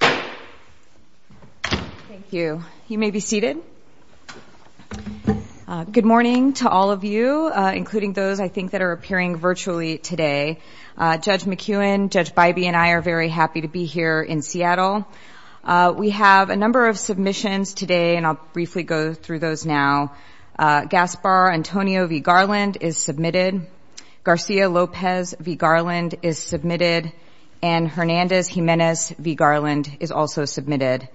Thank you. You may be seated. Good morning to all of you, including those I think that are appearing virtually today. Judge McEwen, Judge Bybee, and I are very happy to be here in Seattle. We have a number of submissions today and I'll briefly go through those now. Gaspar Antonio v. Garland is submitted, Garcia Lopez v. Garland is also submitted.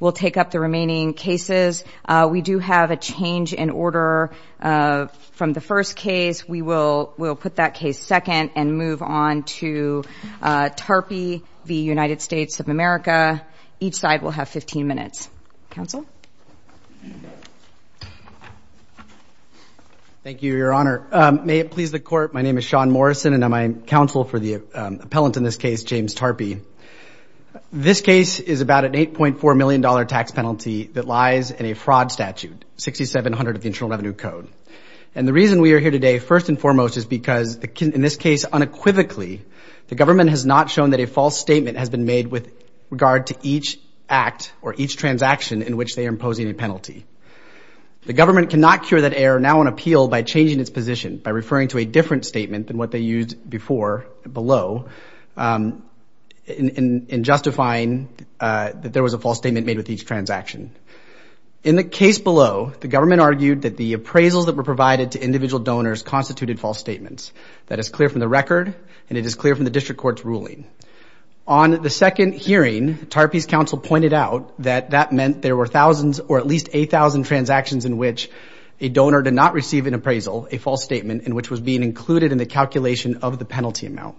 We'll take up the remaining cases. We do have a change in order from the first case. We will we'll put that case second and move on to Tarpey v. United States of America. Each side will have 15 minutes. Counsel? Thank you, Your Honor. May it please the court, my name is Sean Morrison and I'm counsel for the appellant in this case, James Tarpey. This case is about an 8.4 million dollar tax penalty that lies in a fraud statute 6700 of the Internal Revenue Code. And the reason we are here today first and foremost is because in this case unequivocally the government has not shown that a false statement has been made with regard to each act or each transaction in which they are imposing a penalty. The government cannot cure that error now on appeal by changing its position by referring to a different statement than what they used before below in justifying that there was a false statement made with each transaction. In the case below, the government argued that the appraisals that were provided to individual donors constituted false statements. That is clear from the record and it is clear from the district court's ruling. On the second hearing, Tarpey's counsel pointed out that that meant there were thousands or at least a thousand transactions in which a donor did not receive an appraisal, a false statement in which was being included in the calculation of the penalty amount.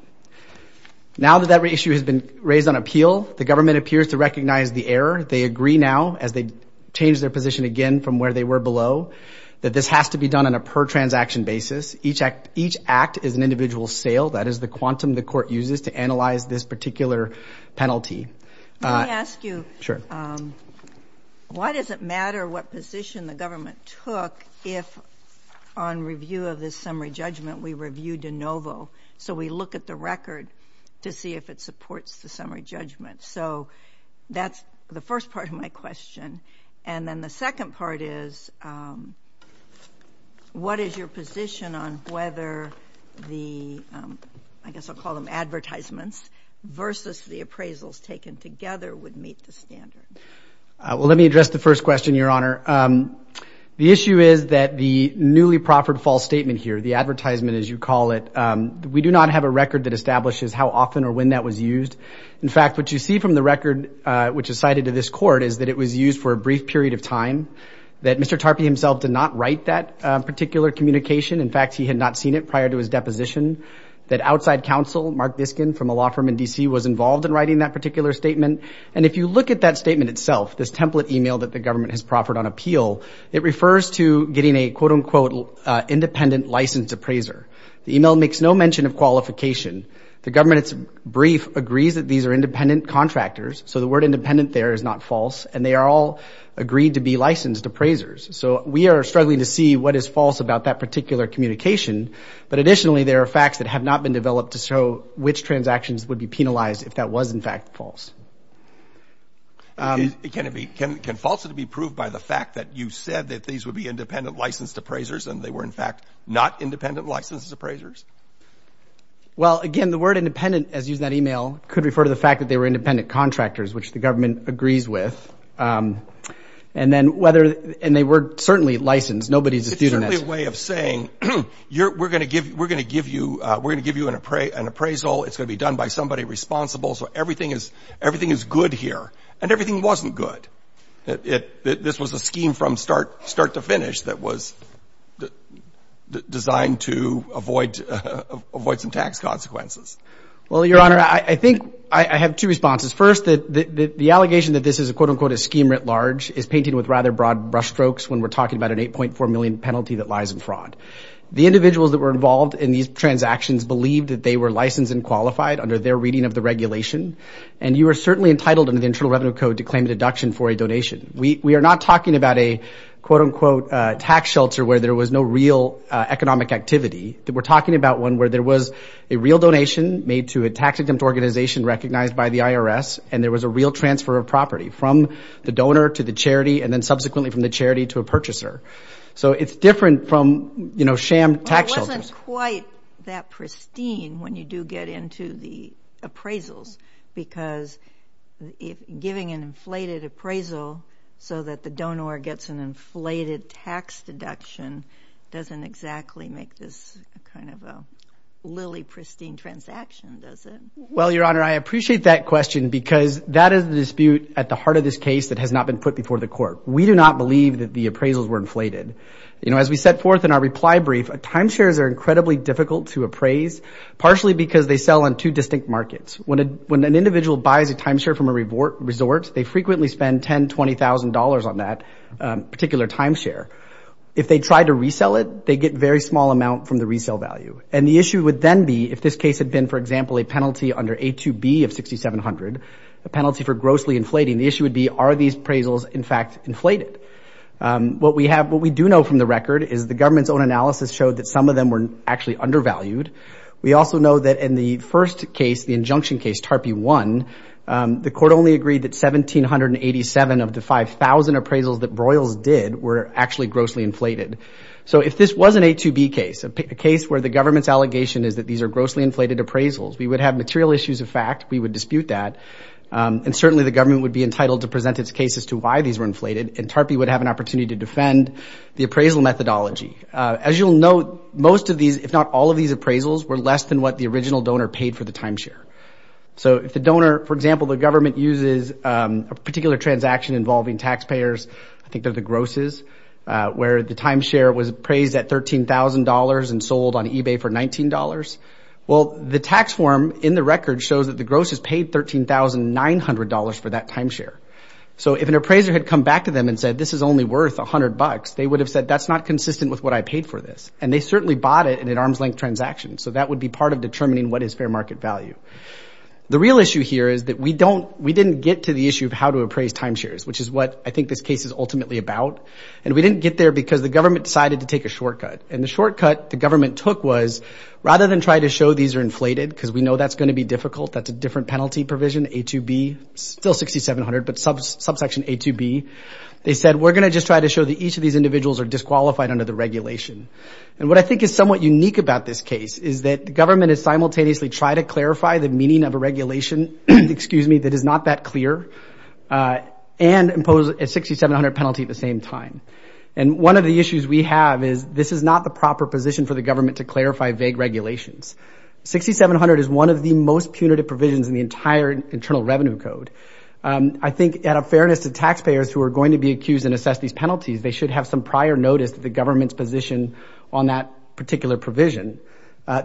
Now that that issue has been raised on appeal, the government appears to recognize the error. They agree now, as they change their position again from where they were below, that this has to be done on a per transaction basis. Each act is an individual sale. That is the quantum the court uses to analyze this particular penalty. Let me ask you, why does it matter what position the government took if on review of this summary judgment we reviewed de novo, so we look at the record to see if it supports the summary judgment? So that's the first part of my question. And then the second part is, what is your position on whether the, I guess I'll call them advertisements, versus the appraisals taken together would meet the standard? Well, let me address the first question, Your Honor. The issue is that the newly proffered false statement here, the advertisement as you call it, we do not have a record that establishes how often or when that was used. In fact, what you see from the record which is cited to this court is that it was used for a brief period of time. That Mr. Tarpey himself did not write that particular communication. In fact, he had not seen it prior to his deposition. That outside counsel, Mark Biskin from a law firm in DC, was involved in writing that particular statement. And if you look at that statement itself, this template email that the government has proffered on appeal, it refers to getting a quote-unquote independent licensed appraiser. The email makes no mention of qualification. The government's brief agrees that these are independent contractors, so the word independent there is not false, and they are all agreed to be licensed appraisers. So we are struggling to see what is false about that particular communication. But additionally, there are facts that have not been developed to show which transactions would be penalized if that was in fact false. Can falsity be proved by the fact that you said that these would be independent licensed appraisers, and they were in fact not independent licensed appraisers? Well, again, the word independent, as used in that email, could refer to the fact that they were independent contractors, which the government agrees with. And then whether, and they were certainly licensed. Nobody's a student. It's certainly a way of saying, we're going to give you, we're going to give you an appraisal. It's going to be done by somebody responsible, so everything is, everything is good here. And everything wasn't good. This was a scheme from start to finish that was designed to avoid some tax consequences. Well, Your Honor, I think I have two responses. First, that the allegation that this is a quote-unquote a scheme writ large is painted with rather broad brushstrokes when we're talking about an 8.4 million penalty that lies in fraud. The individuals that were involved in these transactions believed that they were licensed and qualified under their reading of the regulation, and you are certainly entitled under the Internal Revenue Code to claim a deduction for a donation. We are not talking about a quote-unquote tax shelter where there was no real economic activity. We're talking about one where there was a real donation made to a tax-exempt organization recognized by the IRS, and there was a real transfer of property from the donor to the charity, and then subsequently from the charity to a purchaser. So it's different from, you know, sham tax shelters. It wasn't quite that pristine when you do get into the appraisal so that the donor gets an inflated tax deduction doesn't exactly make this kind of a lily pristine transaction, does it? Well, Your Honor, I appreciate that question because that is the dispute at the heart of this case that has not been put before the court. We do not believe that the appraisals were inflated. You know, as we set forth in our reply brief, timeshares are incredibly difficult to appraise, partially because they sell on two distinct markets. When an individual buys a timeshare from a resort, they frequently spend $10,000, $20,000 on that particular timeshare. If they try to resell it, they get very small amount from the resale value. And the issue would then be if this case had been, for example, a penalty under A2B of 6,700, a penalty for grossly inflating, the issue would be are these appraisals in fact inflated? What we have, what we do know from the record is the government's own analysis showed that some of them were actually undervalued. We also know that in the first case, the injunction case, TARP 1, the court only agreed that 1,787 of the 5,000 appraisals that Broyles did were actually grossly inflated. So if this was an A2B case, a case where the government's allegation is that these are grossly inflated appraisals, we would have material issues of fact, we would dispute that, and certainly the government would be entitled to present its case as to why these were inflated, and TARP would have an opportunity to defend the appraisal methodology. As you'll note, most of these, if not all of these appraisals, were less than what the original donor paid for the timeshare. So if the donor, for example, the particular transaction involving taxpayers, I think they're the grosses, where the timeshare was appraised at $13,000 and sold on eBay for $19, well, the tax form in the record shows that the grosses paid $13,900 for that timeshare. So if an appraiser had come back to them and said this is only worth a hundred bucks, they would have said that's not consistent with what I paid for this, and they certainly bought it in an arm's-length transaction, so that would be part of determining what is fair market value. The real issue here is that we don't, we didn't get to the issue of how to appraise timeshares, which is what I think this case is ultimately about, and we didn't get there because the government decided to take a shortcut, and the shortcut the government took was, rather than try to show these are inflated, because we know that's going to be difficult, that's a different penalty provision, A2B, still 6700, but subsection A2B, they said we're going to just try to show that each of these individuals are disqualified under the regulation, and what I think is somewhat unique about this case is that the government has simultaneously tried to clarify the meaning of a regulation, excuse me, that is not that clear, and impose a 6700 penalty at the same time, and one of the issues we have is this is not the proper position for the government to clarify vague regulations. 6700 is one of the most punitive provisions in the entire Internal Revenue Code. I think at a fairness to taxpayers who are going to be accused and assess these penalties, they should have some prior notice that the government's position on that particular provision.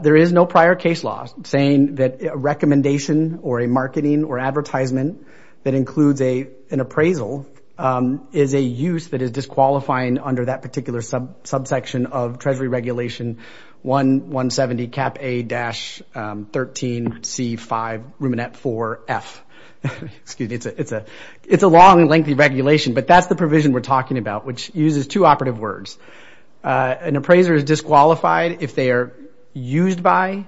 There is no prior case law saying that a recommendation or a marketing or advertisement that includes an appraisal is a use that is disqualifying under that particular subsection of Treasury Regulation 1170, Cap A-13C5, Ruminant 4F, excuse me, it's a long and lengthy regulation, but that's the provision we're talking about, which uses two operative words. An appraiser is disqualified if they are used by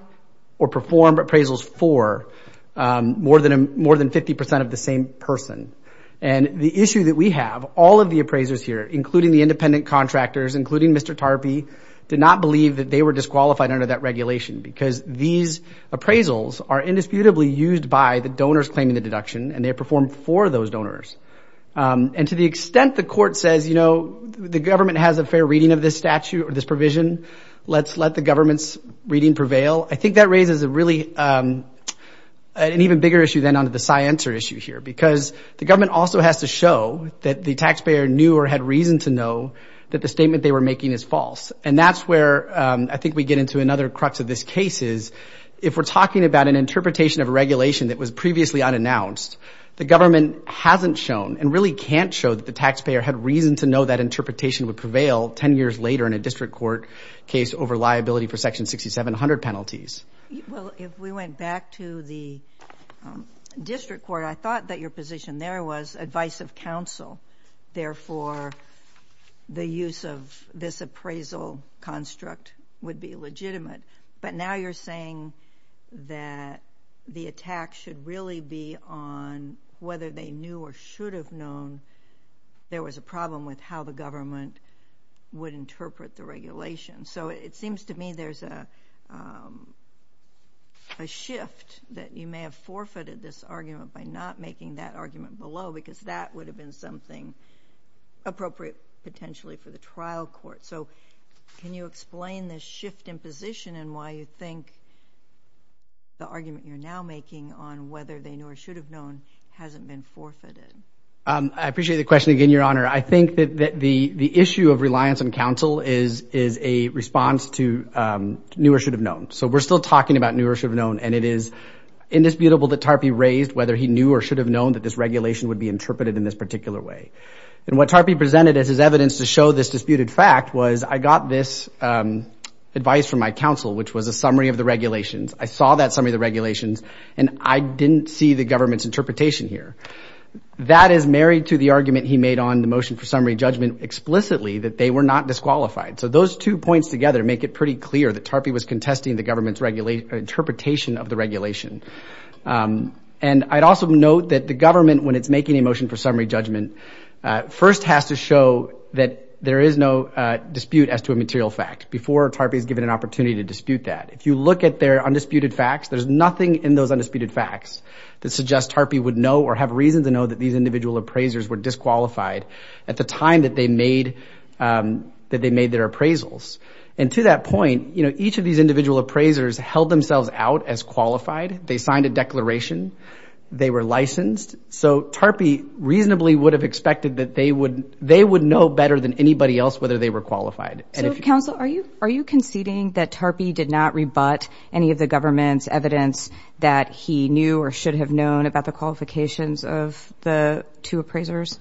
or perform appraisals for more than 50% of the same person, and the issue that we have, all of the appraisers here, including the independent contractors, including Mr. Tarpey, did not believe that they were disqualified under that regulation because these appraisals are indisputably used by the donors claiming the deduction, and they perform for those donors, and to the extent the court says, you know, the government has a fair reading of this statute or this provision, let's let the government's reading prevail, I think that raises a really, an even bigger issue than onto the scienter issue here, because the government also has to show that the taxpayer knew or had reason to know that the statement they were making is false, and that's where I think we get into another crux of this case is, if we're talking about an interpretation of regulation that was previously unannounced, the government hasn't shown and really can't show that the taxpayer had reason to know that interpretation would prevail 10 years later in a district court case over liability for section 6700 penalties. Well, if we went back to the district court, I thought that your position there was advice of counsel, therefore the use of this appraisal construct would be legitimate, but now you're saying that the attack should really be on whether they knew or should have known there was a problem with how the government would interpret the regulation. So it seems to me there's a shift that you may have forfeited this argument by not making that argument below, because that would have been something appropriate potentially for the trial court. So can you explain this shift in position and why you think the argument you're now making, whether they knew or should have known, hasn't been forfeited? I appreciate the question again, Your Honor. I think that the issue of reliance on counsel is a response to knew or should have known. So we're still talking about knew or should have known, and it is indisputable that Tarpey raised whether he knew or should have known that this regulation would be interpreted in this particular way. And what Tarpey presented as his evidence to show this disputed fact was, I got this advice from my counsel, which was a summary of the regulations. I saw that summary of the regulations, and I didn't see the government's interpretation here. That is married to the argument he made on the motion for summary judgment explicitly, that they were not disqualified. So those two points together make it pretty clear that Tarpey was contesting the government's regulation, interpretation of the regulation. And I'd also note that the government, when it's making a motion for summary judgment, first has to show that there is no dispute as to a material fact before Tarpey is given an opportunity to dispute that. If you look at their undisputed facts, there's nothing in those undisputed facts that suggests Tarpey would know or have reason to know that these individual appraisers were disqualified at the time that they made their appraisals. And to that point, you know, each of these individual appraisers held themselves out as qualified. They signed a declaration. They were licensed. So Tarpey reasonably would have expected that they would know better than anybody else whether they were qualified. So counsel, are you conceding that Tarpey did not rebut any of the government's evidence that he knew or should have known about the qualifications of the two appraisers?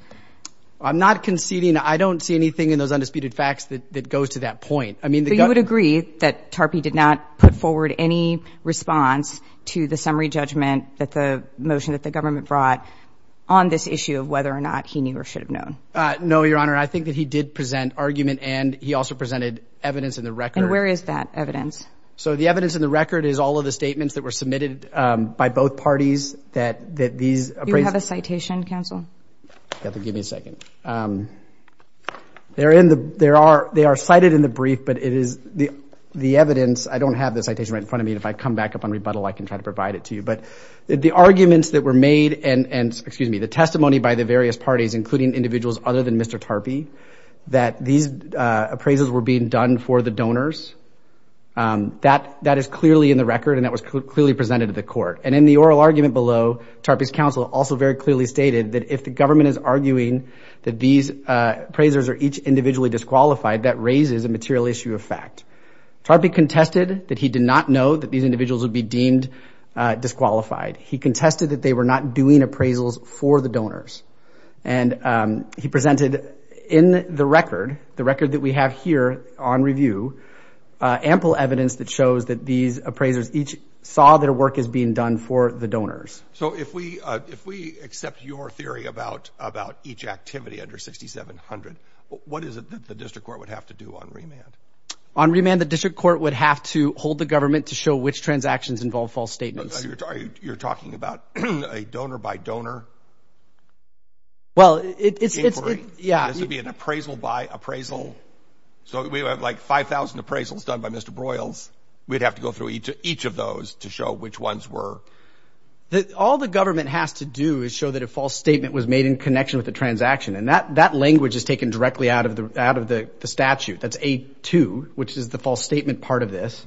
I'm not conceding. I don't see anything in those undisputed facts that goes to that point. I mean, the government... So you would agree that Tarpey did not put forward any response to the summary judgment that the motion that the government brought on this issue of whether or not he knew or should have known? No, Your Honor. I think that he did present argument and he also presented evidence in the record. And where is that evidence? So the evidence in the record is all of the statements that were submitted by both parties that these appraisers... Do you have a citation, counsel? Give me a second. They are cited in the brief, but it is the evidence... I don't have the citation right in front of me. If I come back up on rebuttal, I can try to provide it to you. But the arguments that were made and, excuse me, the testimony by the various parties, including individuals other than Mr. Tarpey, that these appraisals were being done for the donors, that is clearly in the record and that was clearly presented to the court. And in the oral argument below, Tarpey's counsel also very clearly stated that if the government is arguing that these appraisers are each individually disqualified, that raises a material issue of fact. Tarpey contested that he did not know that these individuals would be deemed disqualified. He contested that they were not doing appraisals for the donors. And he presented in the record, the record that we have here on review, ample evidence that shows that these appraisers each saw their work as being done for the donors. So if we accept your theory about each activity under 6700, what is it that the district court would have to do on remand? On remand, the district court would have to hold the government to show which transactions involve false statements. You're talking about a donor by donor inquiry? Well, it's... Inquiry. Yeah. This would be an appraisal by appraisal. So we have like 5,000 appraisals done by Mr. Broyles. We'd have to go through each of those to show which ones were... All the government has to do is show that a false statement was made in connection with the transaction. And that language is taken directly out of the statute. That's A2, which is the false statement part of this.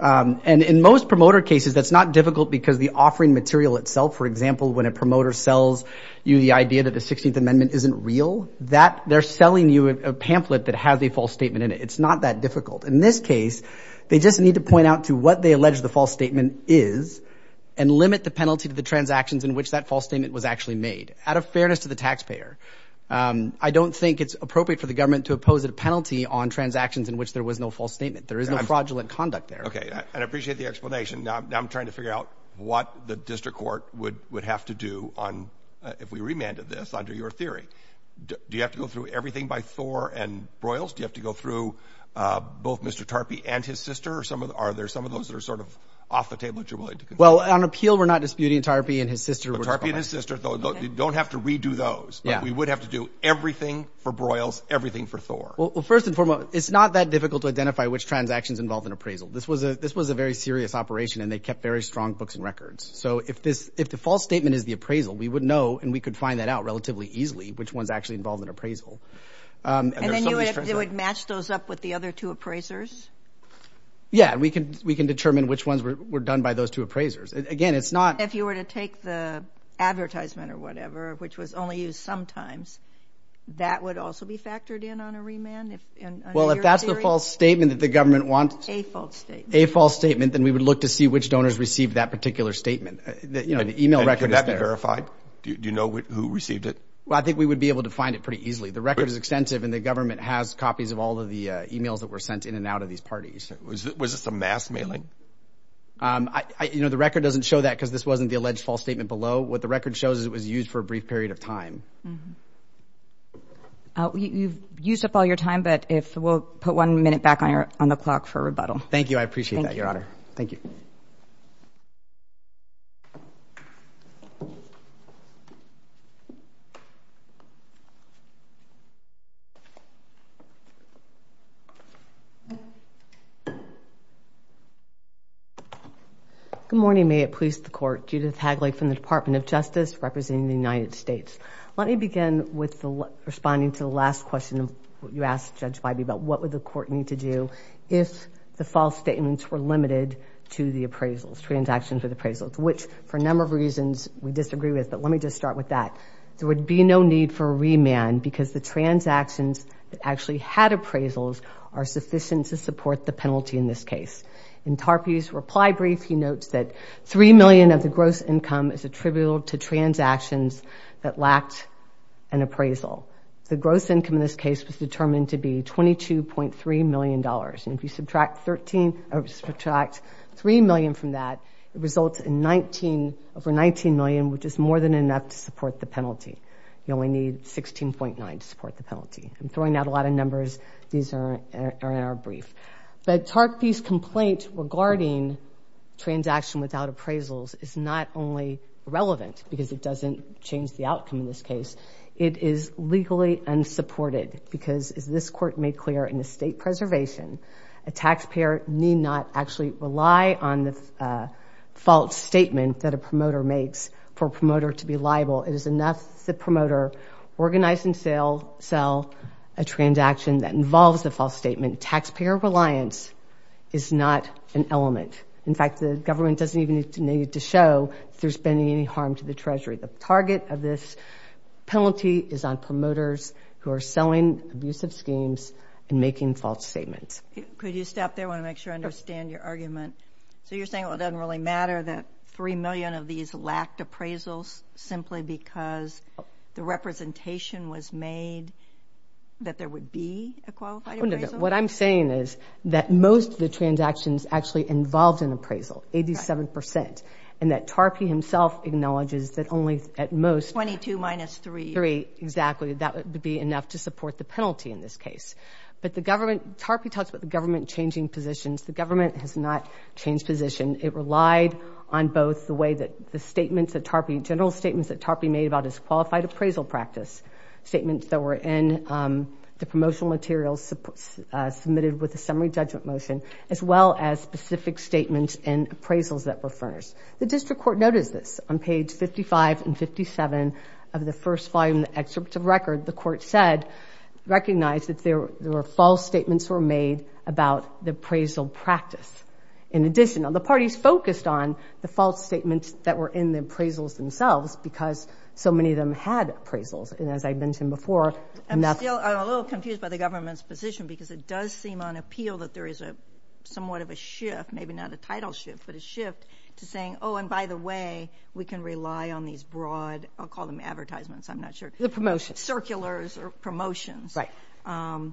And in most promoter cases, that's not difficult because the offering material itself, for example, when a promoter sells you the idea that the 16th Amendment isn't real, that they're selling you a pamphlet that has a false statement in it. It's not that difficult. In this case, they just need to point out to what they allege the false statement is and limit the penalty to the transactions in which that false statement was actually made. Out of fairness to the taxpayer, I don't think it's appropriate for the government to oppose a penalty on transactions in which there was no false statement. There is no fraudulent conduct there. Okay. And I appreciate the explanation. Now I'm trying to figure out what the district court would have to do on, if we remanded this under your theory. Do you have to go through everything by Thor and Broyles? Do you have to go through both Mr. Tarpey and his sister? Or are there some of those that are sort of off the table that you're willing to consider? Well, on appeal, we're not disputing Tarpey and his sister. But Tarpey and his sister, though, don't have to redo those. But we would have to do everything for Broyles, everything for Thor. Well, first and foremost, it's not that difficult to identify which transactions involved in appraisal. This was a very serious operation, and they kept very strong books and records. So if this, if the false statement is the appraisal, we would know, and we could find that out relatively easily, which one's actually involved in appraisal. And then you would match those up with the other two appraisers? Yeah, we can, we can determine which ones were done by those two appraisers. Again, it's not... If you were to take the advertisement or whatever, which was only used sometimes, that would also be factored in on a remand, if, under your theory? Well, if that's the false statement that the government wants... A false statement. A false statement, then we would look to see which donors received that particular statement. The email record is there. And could that be verified? Do you know who received it? Well, I think we would be able to find it pretty easily. The record is extensive, and the government has copies of all of the emails that were sent in and out of these parties. Was this a mass mailing? The record doesn't show that, because this wasn't the alleged false statement below. What the record shows is it was used for a brief period of time. You've used up all your time, but if we'll put one minute back on the clock for rebuttal. Thank you. I appreciate that, your honor. Thank you. Good morning. May it please the court. Judith Hagley from the Department of Justice, representing the United States. Let me begin with responding to the last question you asked Judge Biby about what would the court need to do if the false statements were limited to the appraisals, transactions with appraisals, which for a number of reasons we disagree with, but let me just start with that. There would be no need for a remand, because the transactions that actually had appraisals are sufficient to support the penalty in this case. In Tarpey's reply brief, he notes that $3 million of the gross income is attributable to transactions that lacked an appraisal. The gross income in this case was determined to be $22.3 million, and if you subtract $3 million from that, it results in over $19 million, which is more than enough to support the penalty. You only need $16.9 to support the penalty. I'm throwing out a lot of numbers. These are in our brief. But Tarpey's complaint regarding transaction without appraisals is not only relevant because it doesn't change the outcome in this case, it is legally unsupported, because as this court made clear in the state preservation, a taxpayer need not actually rely on the false statement that a promoter makes for a promoter to be liable. It is enough that the promoter organize and sell a transaction that involves the false statement. Taxpayer reliance is not an element. In fact, the government doesn't even need to show if there's been any harm to the treasury. The target of this penalty is on promoters who are selling abusive schemes and making false statements. Could you stop there? I wanna make sure I understand your argument. So you're saying, well, it doesn't really matter that 3 million of these lacked appraisals simply because the representation was made that there would be a qualified appraisal? No, no, no. What I'm saying is that most of the transactions actually involved an appraisal, 87%. And that Tarpey himself acknowledges that only at most... 22 minus 3. Exactly. That would be enough to support the penalty in this case. But the government... Tarpey talks about the government changing positions. The government has not changed position. It relied on both the way that the statements that Tarpey... General statements that Tarpey made about his qualified appraisal practice, statements that were in the promotional materials submitted with a summary judgment motion, as well as specific statements and appraisals that were first. The district court noticed this on page 55 and 57 of the first volume, the excerpt of record, the court said, recognized that there were false statements were made about the appraisal practice. In addition, the parties focused on the false statements that were in the appraisals themselves because so many of them had appraisals. And as I mentioned before... I'm still a little confused by the government's position because it does seem on appeal that there is a somewhat of a shift, maybe not a title shift, but a shift to saying, oh, and by the way, we can rely on these broad... I'll call them advertisements, I'm not sure. The promotions. Circulars or promotions. Right.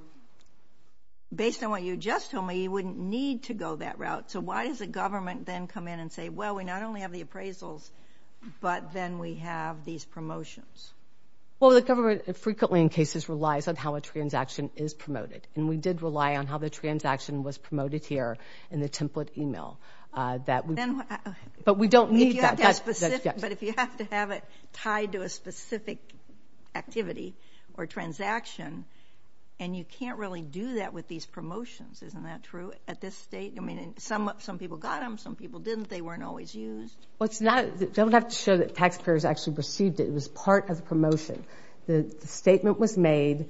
Based on what you just told me, you wouldn't need to go that route. So why does the government then come in and say, well, we not only have the appraisals, but then we have these promotions? Well, the government frequently in cases relies on how a transaction is promoted. And we did rely on how the transaction was promoted here in the template email. But we don't need that. But if you have to have it tied to a specific activity or transaction and you can't really do that with these promotions, isn't that true at this state? I mean, some people got them, some people didn't, they weren't always used. Well, it's not... I don't have to show that taxpayers actually received it. It was part of the promotion. The statement was made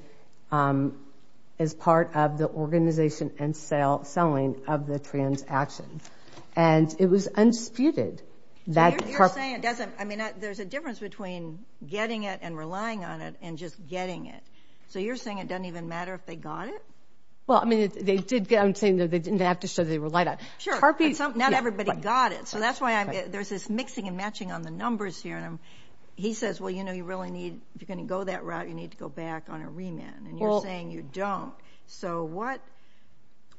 as part of the organization and selling of the transaction. And it was unsputed that... You're saying it doesn't... I mean, there's a difference between getting it and relying on it and just getting it. So you're saying it doesn't even matter if they got it? Well, I mean, they did get... I'm saying that they didn't have to show they relied on it. Sure. But not everybody got it. So that's why there's this mixing and matching on the numbers here. And he says, well, you know, you really need... If you're gonna go that route, you need to go back on a remand. And you're saying you don't. So what...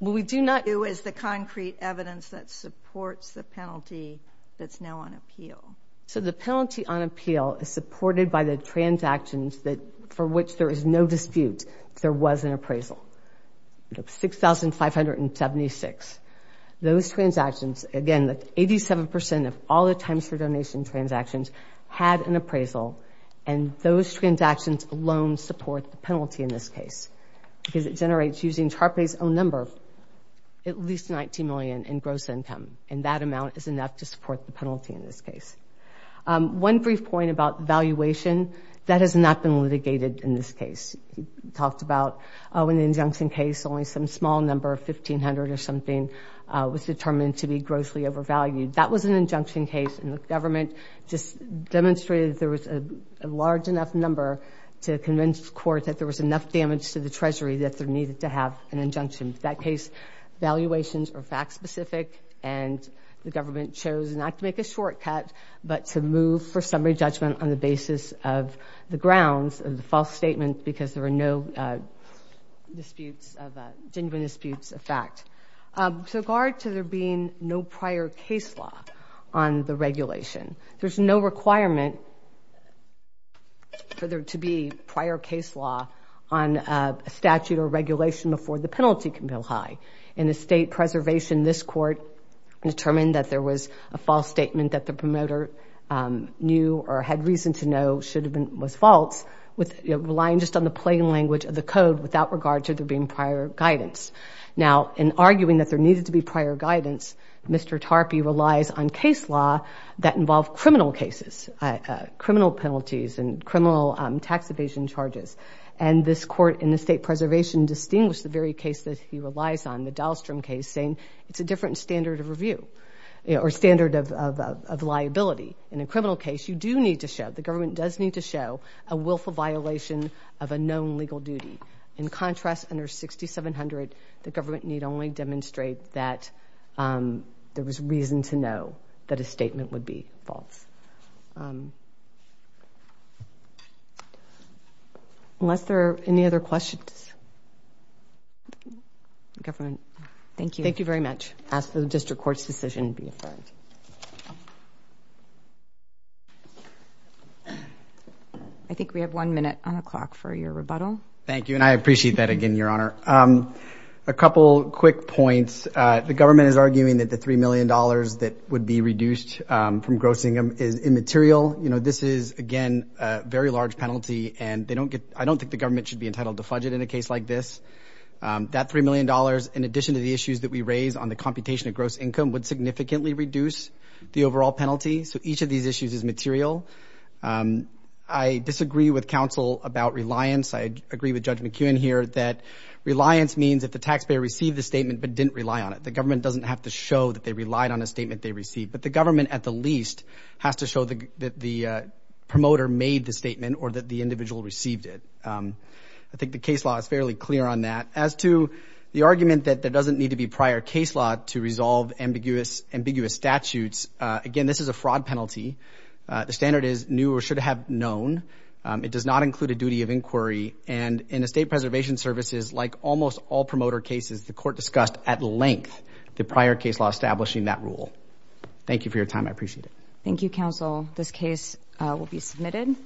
Well, we do not... Is the concrete evidence that supports the penalty that's now on appeal? So the penalty on appeal is supported by the transactions that... For which there is no dispute, if there was an appraisal. 6,576. Those transactions, again, 87% of all the times for loans support the penalty in this case. Because it generates, using TARPAY's own number, at least 19 million in gross income. And that amount is enough to support the penalty in this case. One brief point about valuation, that has not been litigated in this case. We talked about, in the injunction case, only some small number of 1,500 or something was determined to be grossly overvalued. That was an injunction case, and the government just demonstrated there was a large enough number to convince the court that there was enough damage to the Treasury that there needed to have an injunction. That case, valuations are fact specific, and the government chose not to make a shortcut, but to move for summary judgment on the basis of the grounds of the false statement, because there were no disputes of... Genuine disputes of fact. So guard to there being no prior case law on the requirement for there to be prior case law on a statute or regulation before the penalty can go high. In the state preservation, this court determined that there was a false statement that the promoter knew or had reason to know should have been... Was false, relying just on the plain language of the code without regard to there being prior guidance. Now, in arguing that there needed to be prior guidance, Mr. TARPAY relies on criminal cases, criminal penalties, and criminal tax evasion charges. And this court in the state preservation distinguished the very case that he relies on, the Dahlstrom case, saying it's a different standard of review, or standard of liability. In a criminal case, you do need to show, the government does need to show, a willful violation of a known legal duty. In contrast, under 6700, the government need only demonstrate that there was reason to know that a statement would be false. Unless there are any other questions? Governor, thank you. Thank you very much. I ask that the district court's decision be affirmed. I think we have one minute on the clock for your rebuttal. Thank you, and I appreciate that again, Your Honor. A couple quick points. The government is arguing that the $3 million that would be reduced from gross income is immaterial. This is, again, very large penalty, and they don't get... I don't think the government should be entitled to fudge it in a case like this. That $3 million, in addition to the issues that we raise on the computation of gross income, would significantly reduce the overall penalty. So each of these issues is material. I disagree with counsel about reliance. I agree with Judge McKeown here that reliance means that the taxpayer received the statement but didn't rely on it. The government doesn't have to show that they relied on a statement they received. But the government, at the least, has to show that the promoter made the statement or that the individual received it. I think the case law is fairly clear on that. As to the argument that there doesn't need to be prior case law to resolve ambiguous statutes, again, this is a fraud penalty. The standard is new or should have known. It does not include a penalty. And in the State Preservation Services, like almost all promoter cases, the court discussed at length the prior case law establishing that rule. Thank you for your time. I appreciate it. Thank you, counsel. This case will be submitted.